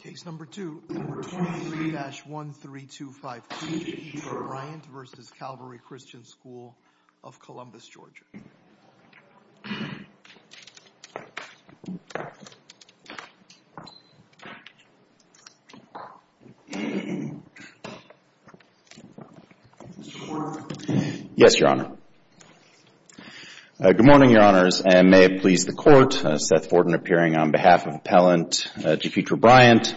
Case No. 2, Number 23-1325P, Jeketra Bryant v. Calvary Christian School of Columbus, Georgia Yes, Your Honor. Good morning, Your Honors, and may it please the Court, Seth Forden appearing on behalf of Appellant Jeketra Bryant.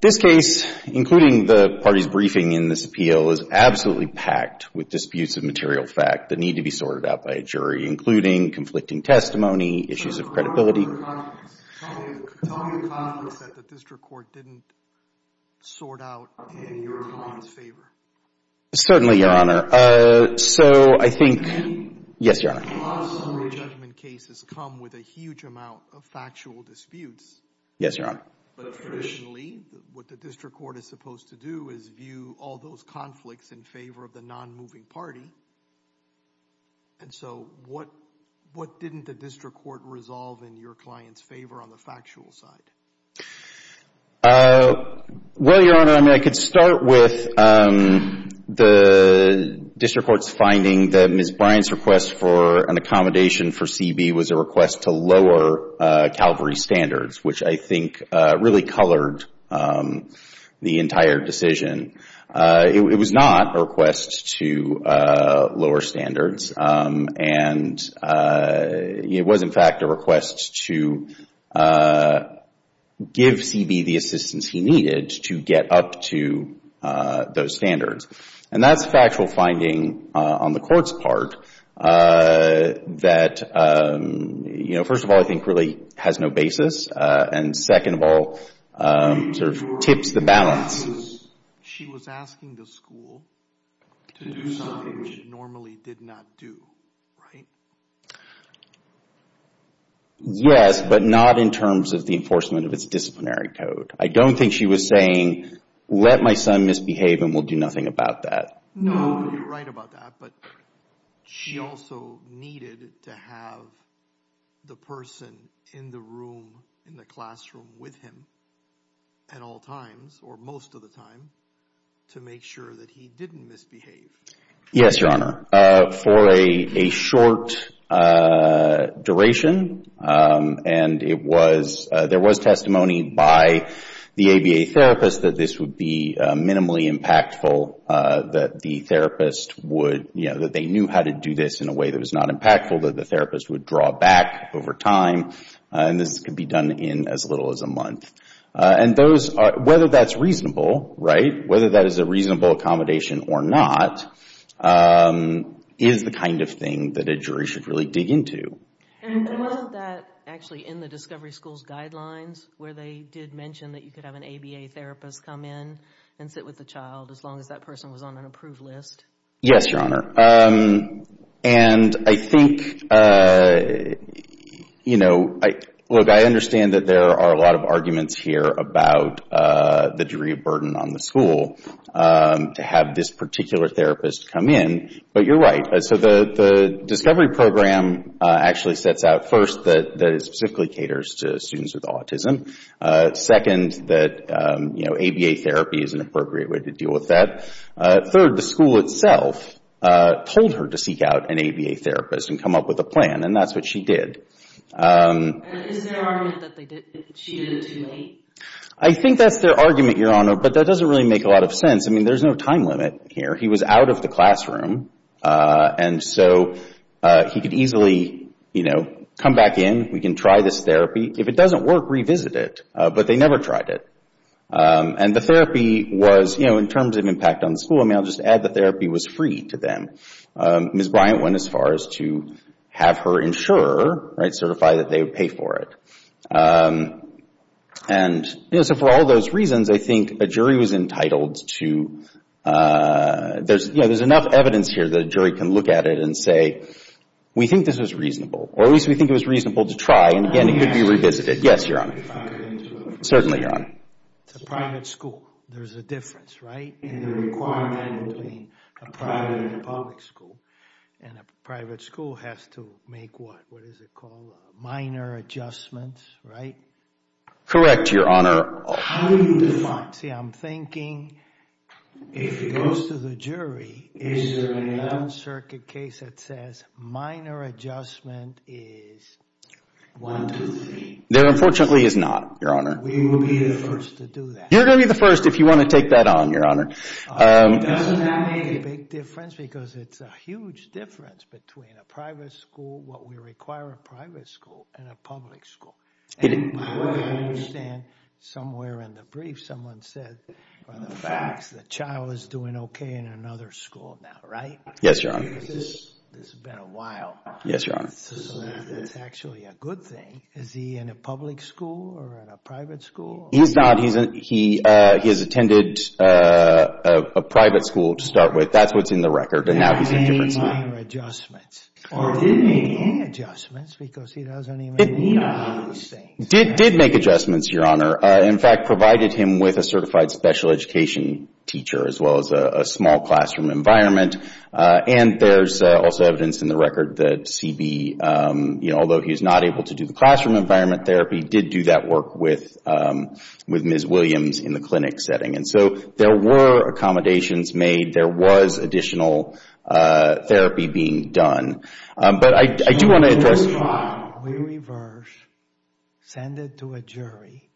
This case, including the party's briefing in this appeal, is absolutely packed with disputes of material fact that need to be sorted out by a jury, including conflicting testimony, issues of credibility. Tell me the conflicts that the district court didn't sort out in your comments' favor. Certainly, Your Honor. So, I think, yes, Your Honor. A lot of summary judgment cases come with a huge amount of factual disputes. Yes, Your Honor. But traditionally, what the district court is supposed to do is view all those conflicts in favor of the non-moving party. And so, what didn't the district court resolve in your client's favor on the factual side? Well, Your Honor, I mean, I could start with the district court's finding that Ms. Bryant's request for an accommodation for CB was a request to lower Calvary standards, which I think really colored the entire decision. It was not a request to lower standards, and it was, in fact, a request to give CB the assistance he needed to get up to those standards. And that's a factual finding on the court's part that, you know, first of all, I think really has no basis, and second of all, sort of tips the balance. She was asking the school to do something it normally did not do, right? Yes, but not in terms of the enforcement of its disciplinary code. I don't think she was saying, let my son misbehave and we'll do nothing about that. No, you're right about that, but she also needed to have the person in the room, in the classroom with him at all times, or most of the time, to make sure that he didn't misbehave. Yes, Your Honor. For a short duration, and it was, there was testimony by the ABA therapist that this would be minimally impactful, that the therapist would, you know, that they knew how to do this in a way that was not impactful, that the therapist would draw back over time. And this could be done in as little as a month. And those, whether that's reasonable, right, whether that is a reasonable accommodation or not, is the kind of thing that a jury should really dig into. And wasn't that actually in the discovery school's guidelines where they did mention that you could have an ABA therapist come in and sit with the child as long as that person was on an approved list? Yes, Your Honor. And I think, you know, look, I understand that there are a lot of arguments here about the jury burden on the school to have this particular therapist come in. But you're right. So the discovery program actually sets out first that it specifically caters to students with autism. Second, that, you know, ABA therapy is an appropriate way to deal with that. Third, the school itself told her to seek out an ABA therapist and come up with a plan. And that's what she did. Is there an argument that she did it to me? I think that's their argument, Your Honor. But that doesn't really make a lot of sense. I mean, there's no time limit here. He was out of the classroom. And so he could easily, you know, come back in. We can try this therapy. If it doesn't work, revisit it. But they never tried it. And the therapy was, you know, in terms of impact on the school, I mean, I'll just add the therapy was free to them. Ms. Bryant went as far as to have her insurer, right, certify that they would pay for it. And, you know, so for all those reasons, I think a jury was entitled to, you know, there's enough evidence here that a jury can look at it and say, we think this was reasonable. Or at least we think it was reasonable to try. And, again, it could be revisited. Yes, Your Honor. Certainly, Your Honor. It's a private school. There's a difference, right, in the requirement between a private and a public school. And a private school has to make what? What is it called? Minor adjustments, right? Correct, Your Honor. How do you define it? See, I'm thinking if it goes to the jury, is there a non-circuit case that says minor adjustment is one, two, three. There, unfortunately, is not, Your Honor. We will be the first to do that. You're going to be the first if you want to take that on, Your Honor. Doesn't that make a big difference? Because it's a huge difference between a private school, what we require a private school, and a public school. It is. And I understand somewhere in the brief someone said the facts, the child is doing okay in another school now, right? Yes, Your Honor. This has been a while. Yes, Your Honor. That's actually a good thing. Is he in a public school or in a private school? He's not. He has attended a private school to start with. That's what's in the record, and now he's in a different school. Did he make minor adjustments? Or did he make any adjustments because he doesn't even know these things? Did make adjustments, Your Honor. In fact, provided him with a certified special education teacher as well as a small classroom environment. And there's also evidence in the record that CB, although he's not able to do the classroom environment therapy, did do that work with Ms. Williams in the clinic setting. And so there were accommodations made. There was additional therapy being done. But I do want to address... We reverse, send it to a jury.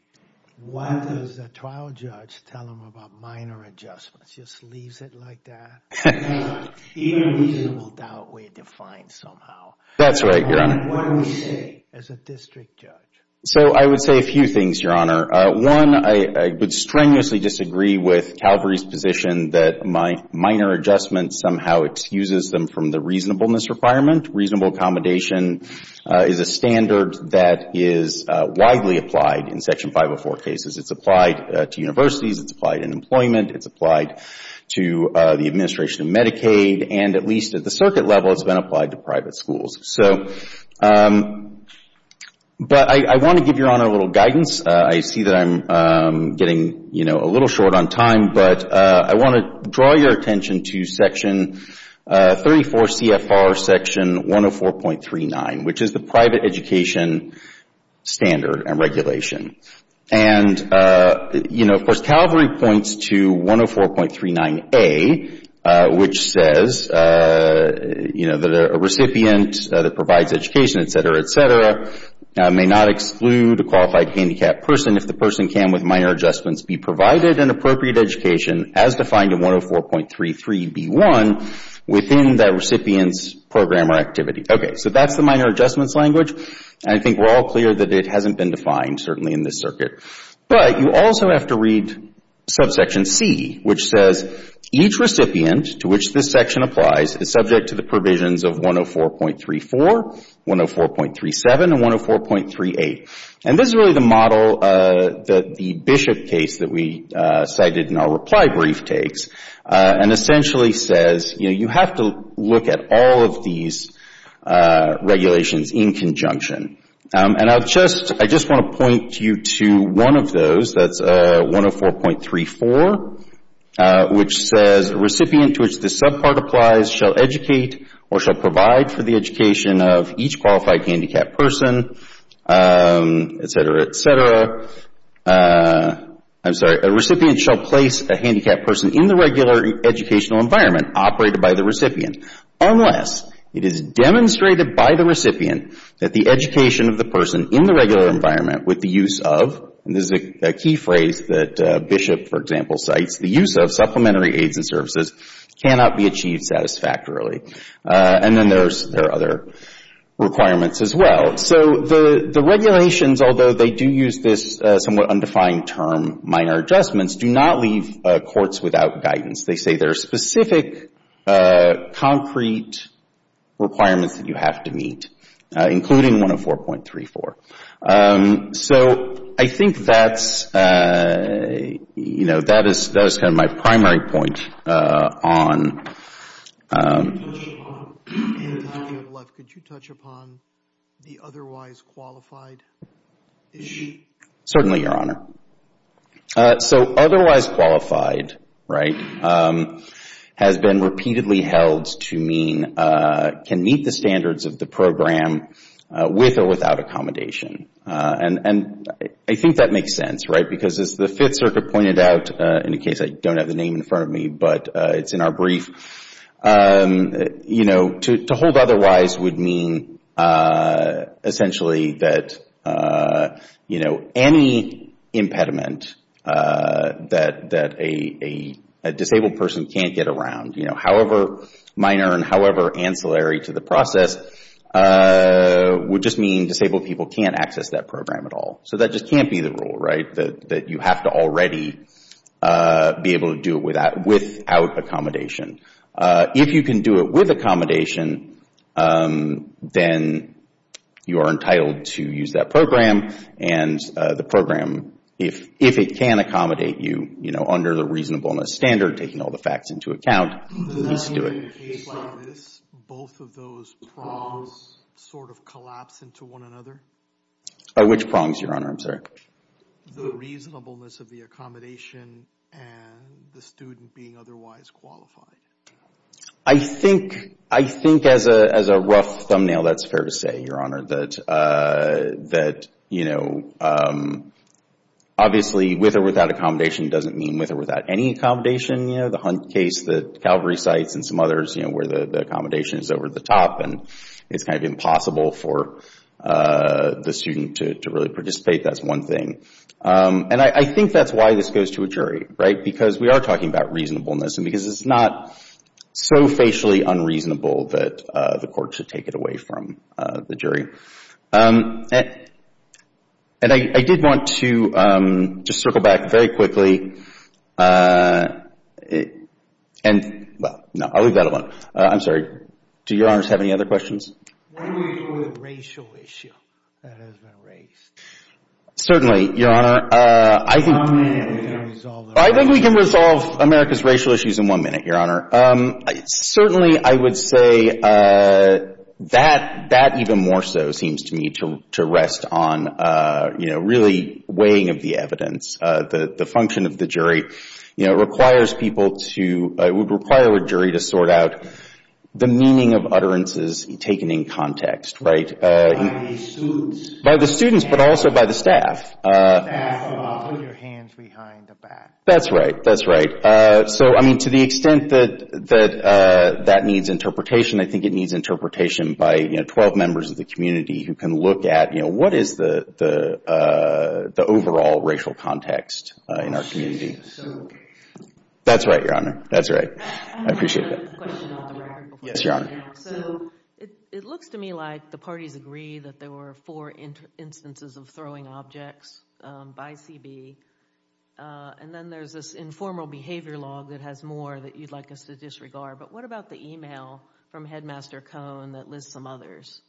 What does a trial judge tell them about minor adjustments? Just leaves it like that. Even reasonable doubt we're defined somehow. That's right, Your Honor. What do we say as a district judge? So I would say a few things, Your Honor. One, I would strenuously disagree with Calvary's position that minor adjustments somehow excuses them from the reasonableness requirement. Reasonable accommodation is a standard that is widely applied in Section 504 cases. It's applied to universities. It's applied in employment. It's applied to the administration of Medicaid. And at least at the circuit level, it's been applied to private schools. So, but I want to give Your Honor a little guidance. I see that I'm getting, you know, a little short on time. But I want to draw your attention to Section 34 CFR Section 104.39, which is the private education standard and regulation. And, you know, of course, Calvary points to 104.39A, which says, you know, that a recipient that provides education, et cetera, et cetera, may not exclude a qualified handicapped person if the person can, with minor adjustments, be provided an appropriate education as defined in 104.33B1 within that recipient's program or activity. Okay, so that's the minor adjustments language. And I think we're all clear that it hasn't been defined, certainly, in this circuit. But you also have to read subsection C, which says, each recipient to which this section applies is subject to the provisions of 104.34, 104.37, and 104.38. And this is really the model that the Bishop case that we cited in our reply brief takes, and essentially says, you know, you have to look at all of these regulations in conjunction. And I'll just, I just want to point you to one of those, that's 104.34, which says, a recipient to which this subpart applies shall educate or shall provide for the education of each qualified handicapped person, et cetera, et cetera. I'm sorry. A recipient shall place a handicapped person in the regular educational environment operated by the recipient, unless it is demonstrated by the recipient that the education of the person in the regular environment with the use of, and this is a key phrase that Bishop, for example, cites, the use of supplementary aids and services cannot be achieved satisfactorily. And then there are other requirements as well. So the regulations, although they do use this somewhat undefined term, minor adjustments, do not leave courts without guidance. They say there are specific concrete requirements that you have to meet, including 104.34. So I think that's, you know, that is kind of my primary point on. In the time you have left, could you touch upon the otherwise qualified issue? Certainly, Your Honor. So otherwise qualified, right, has been repeatedly held to mean, can meet the standards of the program with or without accommodation. And I think that makes sense, right, because as the Fifth Circuit pointed out, in case I don't have the name in front of me, but it's in our brief, you know, to hold otherwise would mean essentially that, you know, any impediment that a disabled person can't get around, you know, however minor and however ancillary to the process, would just mean disabled people can't access that program at all. So that just can't be the rule, right, that you have to already be able to do it without accommodation. If you can do it with accommodation, then you are entitled to use that program, and the program, if it can accommodate you, you know, under the reasonableness standard, taking all the facts into account, needs to do it. In a case like this, both of those prongs sort of collapse into one another? Which prongs, Your Honor? I'm sorry. The reasonableness of the accommodation and the student being otherwise qualified. I think as a rough thumbnail, that's fair to say, Your Honor, that, you know, obviously with or without accommodation doesn't mean with or without any accommodation. You know, the Hunt case that Calvary cites and some others, you know, where the accommodation is over the top and it's kind of impossible for the student to really participate. That's one thing. And I think that's why this goes to a jury, right, because we are talking about reasonableness and because it's not so facially unreasonable that the court should take it away from the jury. And I did want to just circle back very quickly. And, well, no, I'll leave that alone. I'm sorry. Do Your Honors have any other questions? What do we do with the racial issue that has been raised? Certainly, Your Honor. I think we can resolve America's racial issues in one minute, Your Honor. Certainly, I would say that that even more so seems to me to rest on, you know, really weighing of the evidence. The function of the jury, you know, requires people to require a jury to sort out the meaning of utterances taken in context, right. By the students. By the students, but also by the staff. Put your hands behind the back. That's right. That's right. So, I mean, to the extent that that needs interpretation, I think it needs interpretation by, you know, 12 members of the community who can look at, you know, what is the overall racial context in our community. That's right, Your Honor. That's right. I appreciate that. Yes, Your Honor. So it looks to me like the parties agree that there were four instances of throwing objects by CB. And then there's this informal behavior log that has more that you'd like us to disregard. But what about the email from Headmaster Cohn that lists some others?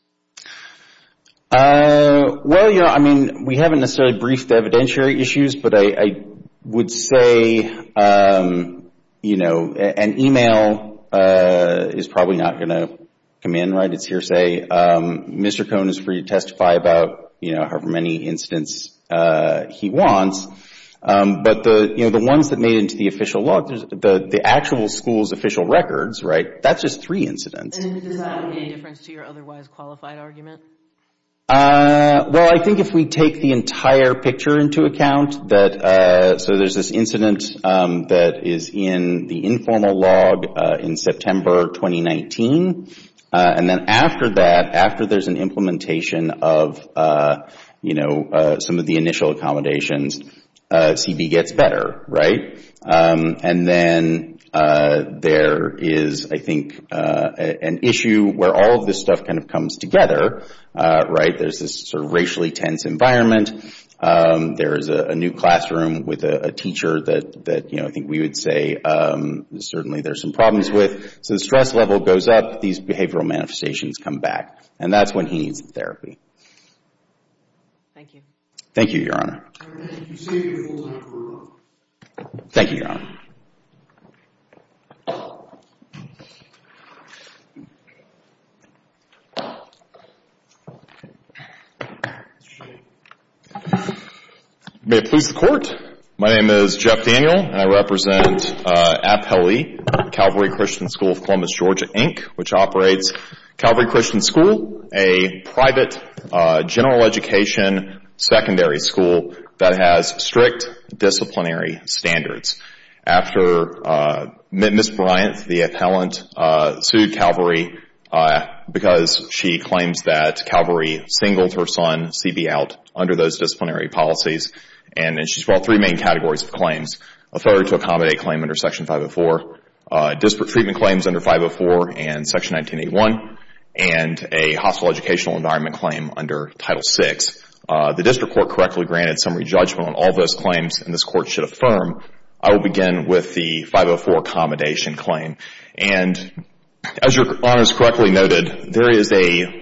Well, Your Honor, I mean, we haven't necessarily briefed evidentiary issues, but I would say, you know, an email is probably not going to come in, right. It's hearsay. Mr. Cohn is free to testify about, you know, however many incidents he wants. But the, you know, the ones that made it into the official log, the actual school's official records, right, that's just three incidents. And does that make a difference to your otherwise qualified argument? Well, I think if we take the entire picture into account that, so there's this incident that is in the informal log in September 2019. And then after that, after there's an implementation of, you know, some of the initial accommodations, CB gets better, right. And then there is, I think, an issue where all of this stuff kind of comes together, right. There's this sort of racially tense environment. There is a new classroom with a teacher that, you know, I think we would say certainly there's some problems with. So the stress level goes up, these behavioral manifestations come back. And that's when he needs therapy. Thank you. Thank you, Your Honor. All right. Thank you. Thank you, Your Honor. May it please the Court. My name is Jeff Daniel, and I represent APHELE, Calvary Christian School of Columbus, Georgia, Inc., which operates Calvary Christian School, a private general education secondary school that has strict disciplinary standards. After Ms. Bryant, the appellant, sued Calvary because she claims that Calvary singled her son, CB, out under those disciplinary policies. And she's brought three main categories of claims, authority to accommodate claim under Section 504, disparate treatment claims under 504 and Section 1981, and a hostile educational environment claim under Title VI. The district court correctly granted summary judgment on all those claims, and this Court should affirm. I will begin with the 504 accommodation claim. As Your Honor has correctly noted, there is a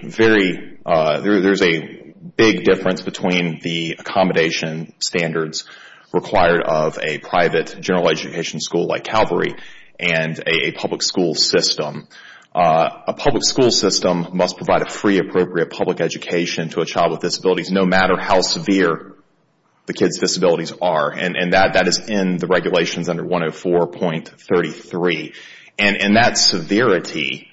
big difference between the accommodation standards required of a private general education school like Calvary and a public school system. A public school system must provide a free, appropriate public education to a child with disabilities, no matter how severe the kid's disabilities are. And that is in the regulations under 104.33. And that severity,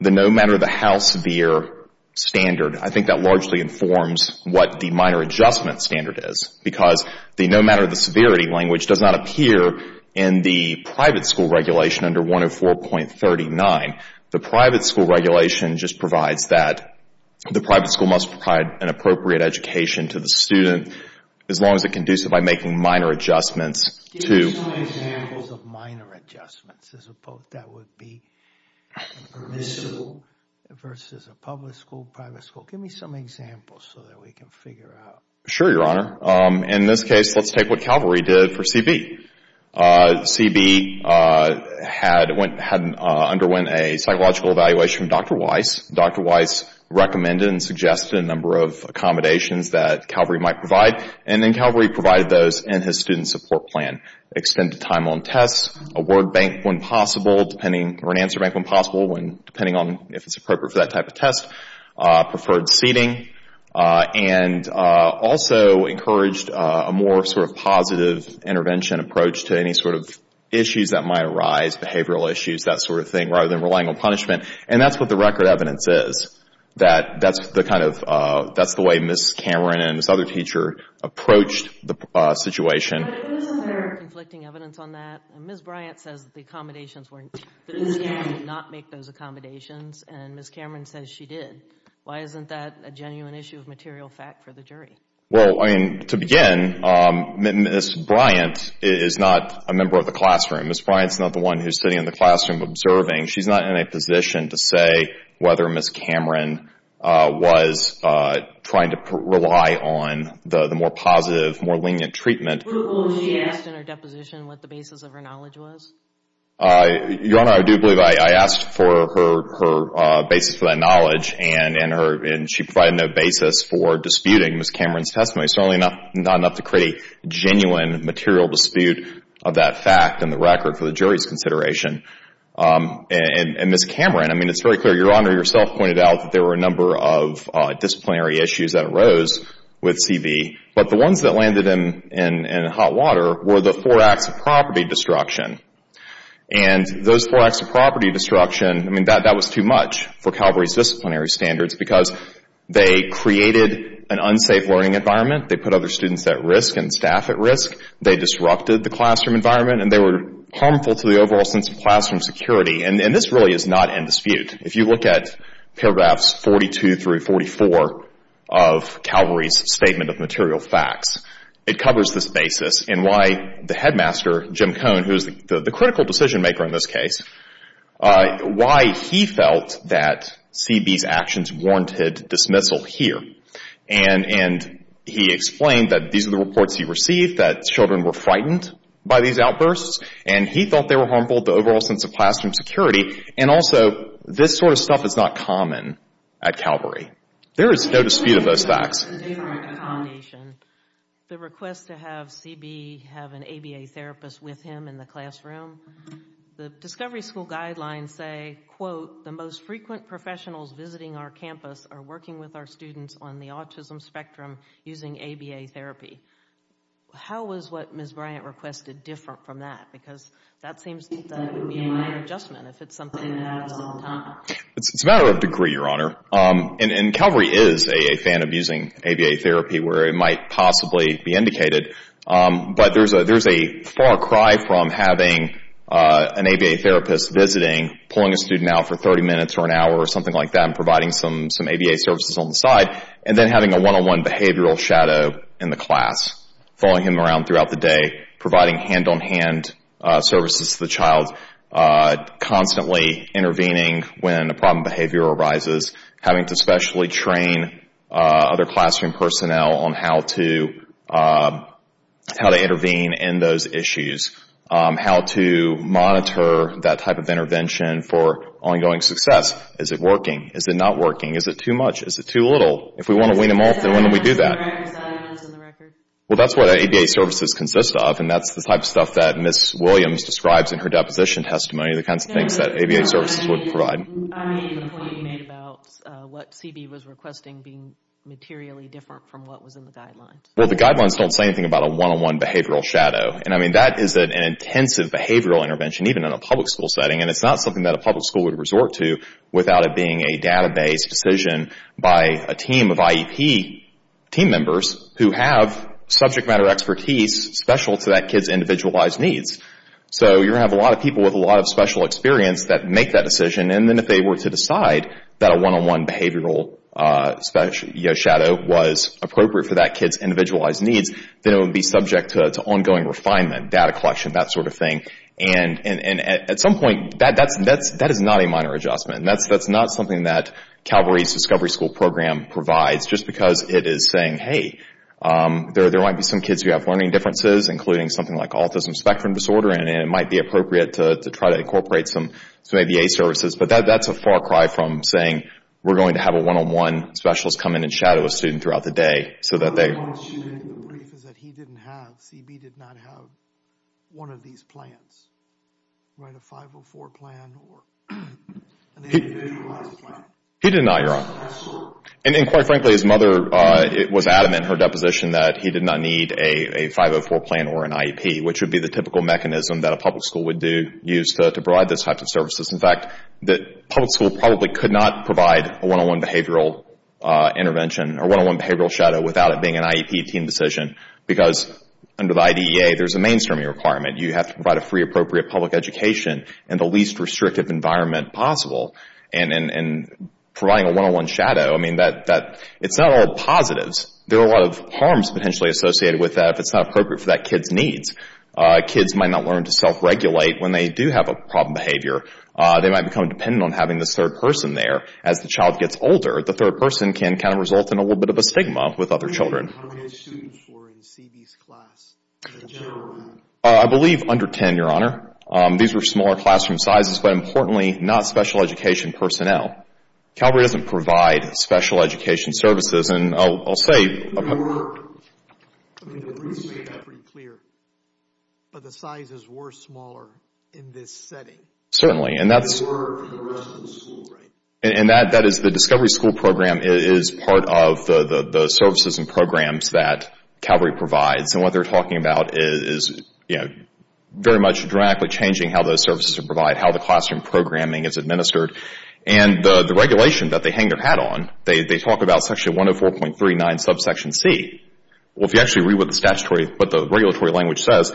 the no matter how severe standard, I think that largely informs what the minor adjustment standard is. Because the no matter the severity language does not appear in the private school regulation under 104.39. The private school regulation just provides that the private school must provide an appropriate education to the student as long as it can do so by making minor adjustments to. Give me some examples of minor adjustments as opposed to that would be permissible versus a public school, private school. Give me some examples so that we can figure out. Sure, Your Honor. In this case, let's take what Calvary did for CB. CB had underwent a psychological evaluation from Dr. Weiss. Dr. Weiss recommended and suggested a number of accommodations that Calvary might provide. And then Calvary provided those in his student support plan. Extended time on tests. Award bank when possible, depending, or an answer bank when possible, depending on if it's appropriate for that type of test. Preferred seating. And also encouraged a more sort of positive intervention approach to any sort of issues that might arise, behavioral issues, that sort of thing, rather than relying on punishment. And that's what the record evidence is, that that's the kind of, that's the way Ms. Cameron and this other teacher approached the situation. But isn't there conflicting evidence on that? Ms. Bryant says the accommodations were, that Ms. Cameron did not make those accommodations, and Ms. Cameron says she did. Why isn't that a genuine issue of material fact for the jury? Well, I mean, to begin, Ms. Bryant is not a member of the classroom. Ms. Bryant's not the one who's sitting in the classroom observing. She's not in a position to say whether Ms. Cameron was trying to rely on the more positive, more lenient treatment. Were all of those she asked in her deposition what the basis of her knowledge was? Your Honor, I do believe I asked for her basis for that knowledge, and she provided no basis for disputing Ms. Cameron's testimony. Certainly not enough to create a genuine material dispute of that fact in the record for the jury's consideration. And Ms. Cameron, I mean, it's very clear. Your Honor yourself pointed out that there were a number of disciplinary issues that arose with C.V., but the ones that landed in hot water were the four acts of property destruction. And those four acts of property destruction, I mean, that was too much for Calvary's disciplinary standards because they created an unsafe learning environment. They put other students at risk and staff at risk. They disrupted the classroom environment, and they were harmful to the overall sense of classroom security. And this really is not in dispute. If you look at paragraphs 42 through 44 of Calvary's statement of material facts, it covers this basis and why the headmaster, Jim Cohn, who is the critical decision maker in this case, why he felt that C.B.'s actions warranted dismissal here. And he explained that these are the reports he received, that children were frightened by these outbursts, and he thought they were harmful to the overall sense of classroom security. And also, this sort of stuff is not common at Calvary. There is no dispute of those facts. The request to have C.B. have an ABA therapist with him in the classroom, the Discovery School guidelines say, quote, the most frequent professionals visiting our campus are working with our students on the autism spectrum using ABA therapy. How is what Ms. Bryant requested different from that? Because that seems to be my adjustment, if it's something that lasts a long time. It's a matter of degree, Your Honor. And Calvary is a fan of using ABA therapy where it might possibly be indicated. But there's a far cry from having an ABA therapist visiting, pulling a student out for 30 minutes or an hour or something like that and providing some ABA services on the side, and then having a one-on-one behavioral shadow in the class, following him around throughout the day, providing hand-on-hand services to the child, constantly intervening when a problem of behavior arises, having to specially train other classroom personnel on how to intervene in those issues, how to monitor that type of intervention for ongoing success. Is it working? Is it not working? Is it too much? Is it too little? If we want to wean them off, then when do we do that? Well, that's what ABA services consist of, and that's the type of stuff that Ms. Williams describes in her deposition testimony, the kinds of things that ABA services would provide. I made the point you made about what CB was requesting being materially different from what was in the guidelines. Well, the guidelines don't say anything about a one-on-one behavioral shadow. That is an intensive behavioral intervention, even in a public school setting, and it's not something that a public school would resort to without it being a database decision by a team of IEP team members who have subject matter expertise special to that kid's individualized needs. So you're going to have a lot of people with a lot of special experience that make that decision, and then if they were to decide that a one-on-one behavioral shadow was appropriate for that kid's individualized needs, then it would be subject to ongoing refinement, data collection, that sort of thing. And at some point, that is not a minor adjustment. That's not something that Calvary's Discovery School Program provides just because it is saying, hey, there might be some kids who have learning differences, including something like autism spectrum disorder, and it might be appropriate to try to incorporate some ABA services. But that's a far cry from saying we're going to have a one-on-one specialist come in and shadow a student throughout the day so that they... The brief is that he didn't have, CB did not have one of these plans, right? A 504 plan or an individualized plan. He did not, Your Honor. And quite frankly, his mother was adamant in her deposition that he did not need a 504 plan or an IEP, which would be the typical mechanism that a public school would use to provide those types of services. In fact, the public school probably could not provide a one-on-one behavioral intervention or one-on-one behavioral shadow without it being an IEP team decision, because under the IDEA, there's a mainstreaming requirement. You have to provide a free, appropriate public education in the least restrictive environment possible. And providing a one-on-one shadow, I mean, it's not all positives. There are a lot of harms potentially associated with that if it's not appropriate for that kid's needs. Kids might not learn to self-regulate when they do have a problem behavior. They might become dependent on having this third person there. As the child gets older, the third person can kind of result in a little bit of a stigma with other children. How many students were in CB's class in general? I believe under 10, Your Honor. These were smaller classroom sizes, but importantly, not special education personnel. Calvary doesn't provide special education services. And I'll say... Your Honor, let me make that pretty clear. But the sizes were smaller in this setting. Certainly, and that's... They were for the rest of the school. And that is the Discovery School Program is part of the services and programs that Calvary provides. And what they're talking about is, you know, very much dramatically changing how those services are provided, how the classroom programming is administered. And the regulation that they hang their hat on, they talk about Section 104.39 subsection C. Well, if you actually read what the statutory, what the regulatory language says,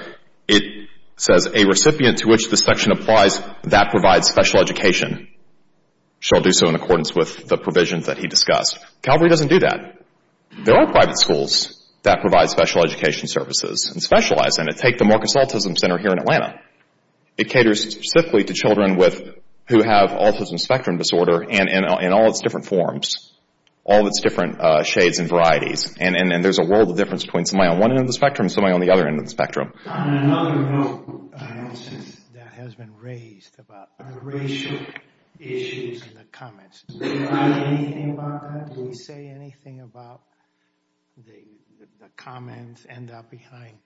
it says a recipient to which the section applies that provides special education shall do so in accordance with the provisions that he discussed. Calvary doesn't do that. There are private schools that provide special education services and specialize in it. Take the Marcus Autism Center here in Atlanta. It caters specifically to children who have autism spectrum disorder and in all its different forms, all its different shades and varieties. And there's a world of difference between somebody on one end of the spectrum and somebody on the other end of the spectrum. On another note, that has been raised about the racial issues in the comments. Do they say anything about that? Do we say anything about the comments end up behind...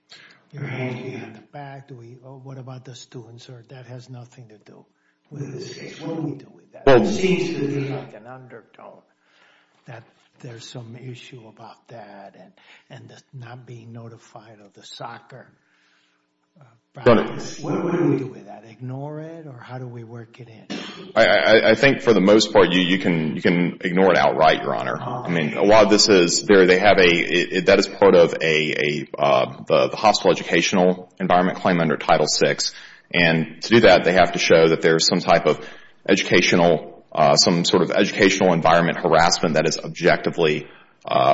What about the students? That has nothing to do with this case. What do we do with that? It seems to me like an undertone that there's some issue about that and not being notified of the soccer practice. What do we do with that? Ignore it? Or how do we work it in? I think for the most part, you can ignore it outright, Your Honor. That is part of the hospital educational environment claim under Title VI. And to do that, they have to show that there's some sort of educational environment harassment that is objectively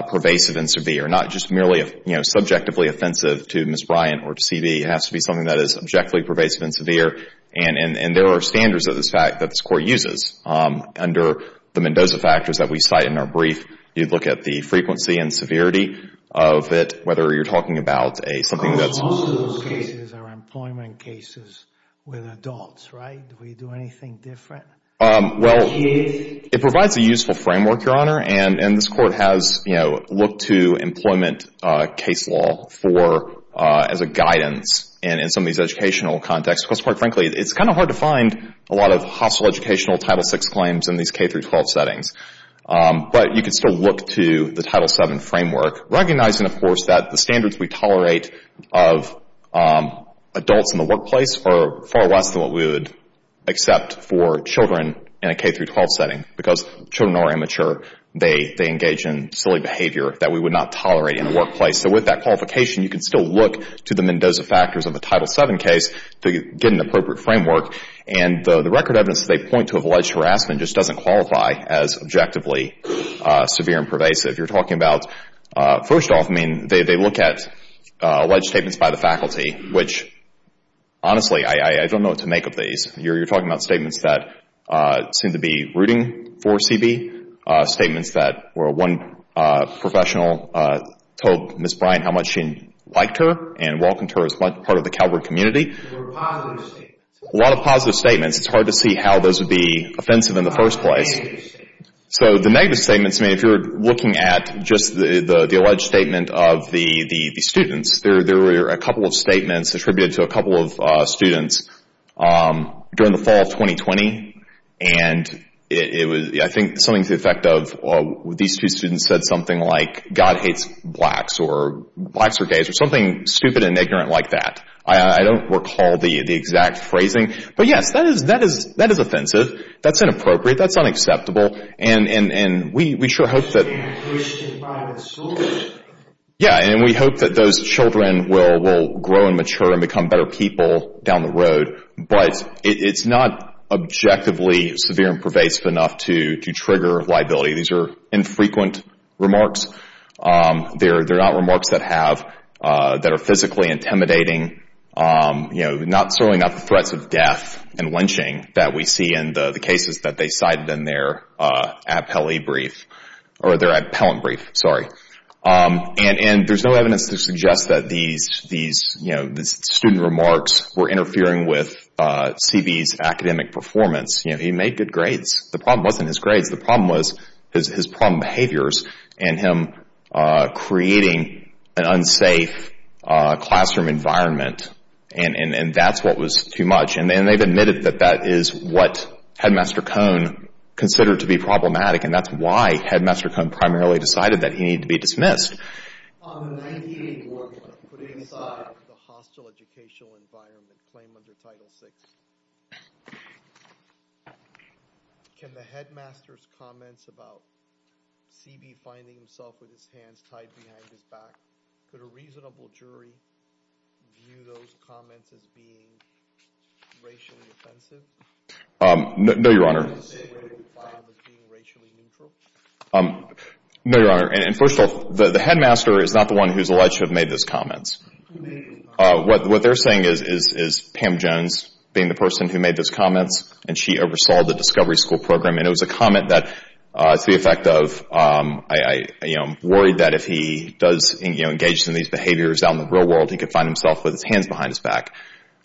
pervasive and severe, not just merely subjectively offensive to Ms. Bryant or to CB. It has to be something that is objectively pervasive and severe. And there are standards of this fact that this Court uses under the Mendoza factors that we cite in our brief. You'd look at the frequency and severity of it, whether you're talking about something that's... Of course, most of those cases are employment cases with adults, right? Do we do anything different? Well, it provides a useful framework, Your Honor, and this Court has looked to employment case law as a guidance in some of these educational contexts. Because quite frankly, it's kind of hard to find a lot of hospital educational Title VI claims in these K-12 settings. But you can still look to the Title VII framework, recognizing, of course, that the standards we tolerate of adults in the workplace are far less than what we would accept for children in a K-12 setting. Because children are immature. They engage in silly behavior that we would not tolerate in the workplace. So with that qualification, you can still look to the Mendoza factors of a Title VII case to get an appropriate framework. And the record evidence they point to of alleged harassment just doesn't qualify as objectively severe and pervasive. You're talking about... First off, I mean, they look at alleged statements by the faculty, which, honestly, I don't know what to make of these. You're talking about statements that seem to be rooting for CB, statements that where one professional told Ms. Bryan how much she liked her and welcomed her as part of the Calvert community. A lot of positive statements. It's hard to see how those would be offensive in the first place. So the negative statements, I mean, if you're looking at just the alleged statement of the students, there were a couple of statements attributed to a couple of students during the fall of 2020. And I think something to the effect of these two students said something like, God hates blacks, or blacks are gays, or something stupid and ignorant like that. I don't recall the exact phrasing. But, yes, that is offensive. That's inappropriate. That's unacceptable. And we sure hope that... Yeah, and we hope that those children will grow and mature and become better people down the road. But it's not objectively severe and pervasive enough to trigger liability. These are infrequent remarks. They're not remarks that have... that are physically intimidating. Certainly not the threats of death and lynching that we see in the cases that they cited in their appellate brief. And there's no evidence to suggest that these student remarks were interfering with CB's academic performance. He made good grades. The problem wasn't his grades. The problem was his problem behaviors and him creating an unsafe classroom environment. And that's what was too much. And they've admitted that that is what Headmaster Cone considered to be problematic, and that's why Headmaster Cone primarily decided that he needed to be dismissed. On the 1984 putting aside the hostile educational environment claimed under Title VI, can the headmaster's comments about CB finding himself with his hands tied behind his back, could a reasonable jury view those comments as being racially offensive? No, Your Honor. Can the headmaster say where he found them as being racially neutral? No, Your Honor. And first of all, the headmaster is not the one who's alleged to have made those comments. What they're saying is Pam Jones being the person who made those comments, and she oversaw the discovery school program. And it was a comment that to the effect of, you know, worried that if he does engage in these behaviors out in the real world, he could find himself with his hands behind his back.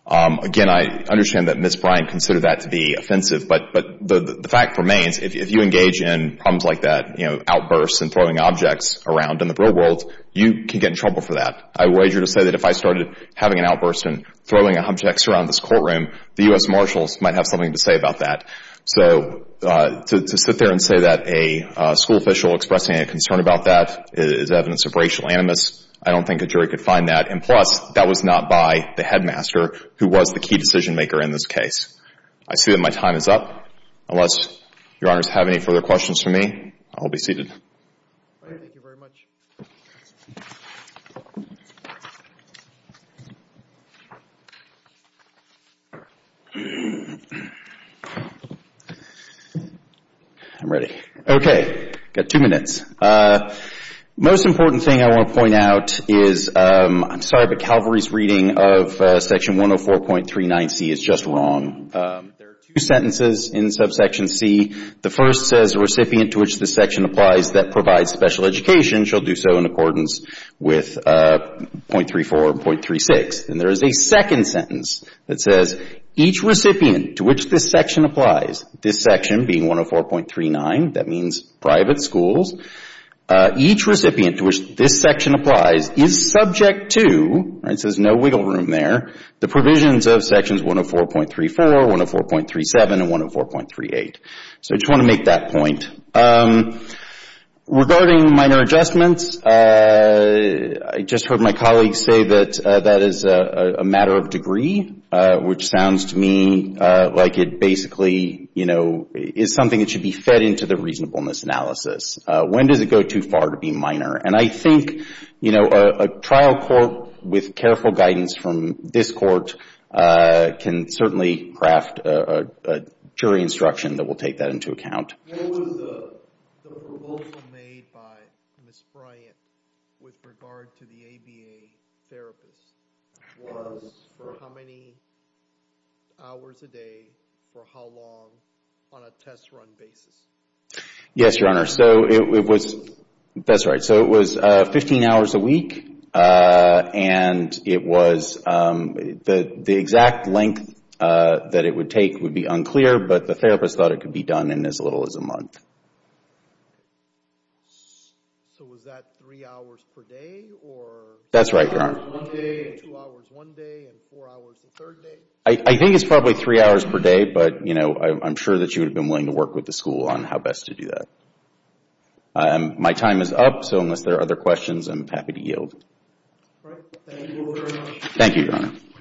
Again, I understand that Ms. Bryant considered that to be offensive. But the fact remains, if you engage in problems like that, you know, outbursts and throwing objects around in the real world, you can get in trouble for that. I wager to say that if I started having an outburst and throwing objects around this courtroom, the U.S. Marshals might have something to say about that. So to sit there and say that a school official expressing a concern about that is evidence of racial animus, I don't think a jury could find that. And plus, that was not by the headmaster who was the key decision maker in this case. I see that my time is up. Unless Your Honors have any further questions for me, I'll be seated. Thank you very much. I'm ready. Okay. Got two minutes. Most important thing I want to point out is, I'm sorry, but Calvary's reading of Section 104.39c is just wrong. There are two sentences in subsection c. The first says, the recipient to which this section applies that provides special education shall do so in accordance with .34 and .36. And there is a second sentence that says, each recipient to which this section applies, this section being 104.39, that means private schools, each recipient to which this section applies is subject to, it says no wiggle room there, the provisions of Sections 104.34, 104.37, and 104.38. So I just want to make that point. Regarding minor adjustments, I just heard my colleague say that that is a matter of degree, which sounds to me like it basically, you know, is something that should be fed into the reasonableness analysis. When does it go too far to be minor? And I think, you know, a trial court with careful guidance from this court can certainly craft a jury instruction that will take that into account. What was the proposal made by Ms. Bryant with regard to the ABA therapist? It was for how many hours a day for how long on a test run basis? Yes, Your Honor. So it was, that's right. So it was 15 hours a week, and it was the exact length that it would take would be unclear, but the therapist thought it could be done in as little as a month. So was that three hours per day, or? That's right, Your Honor. One day, two hours one day, and four hours the third day? I think it's probably three hours per day, but, you know, I'm sure that she would have been willing to work with the school on how best to do that. My time is up, so unless there are other questions, I'm happy to yield. Thank you very much. Thank you, Your Honor.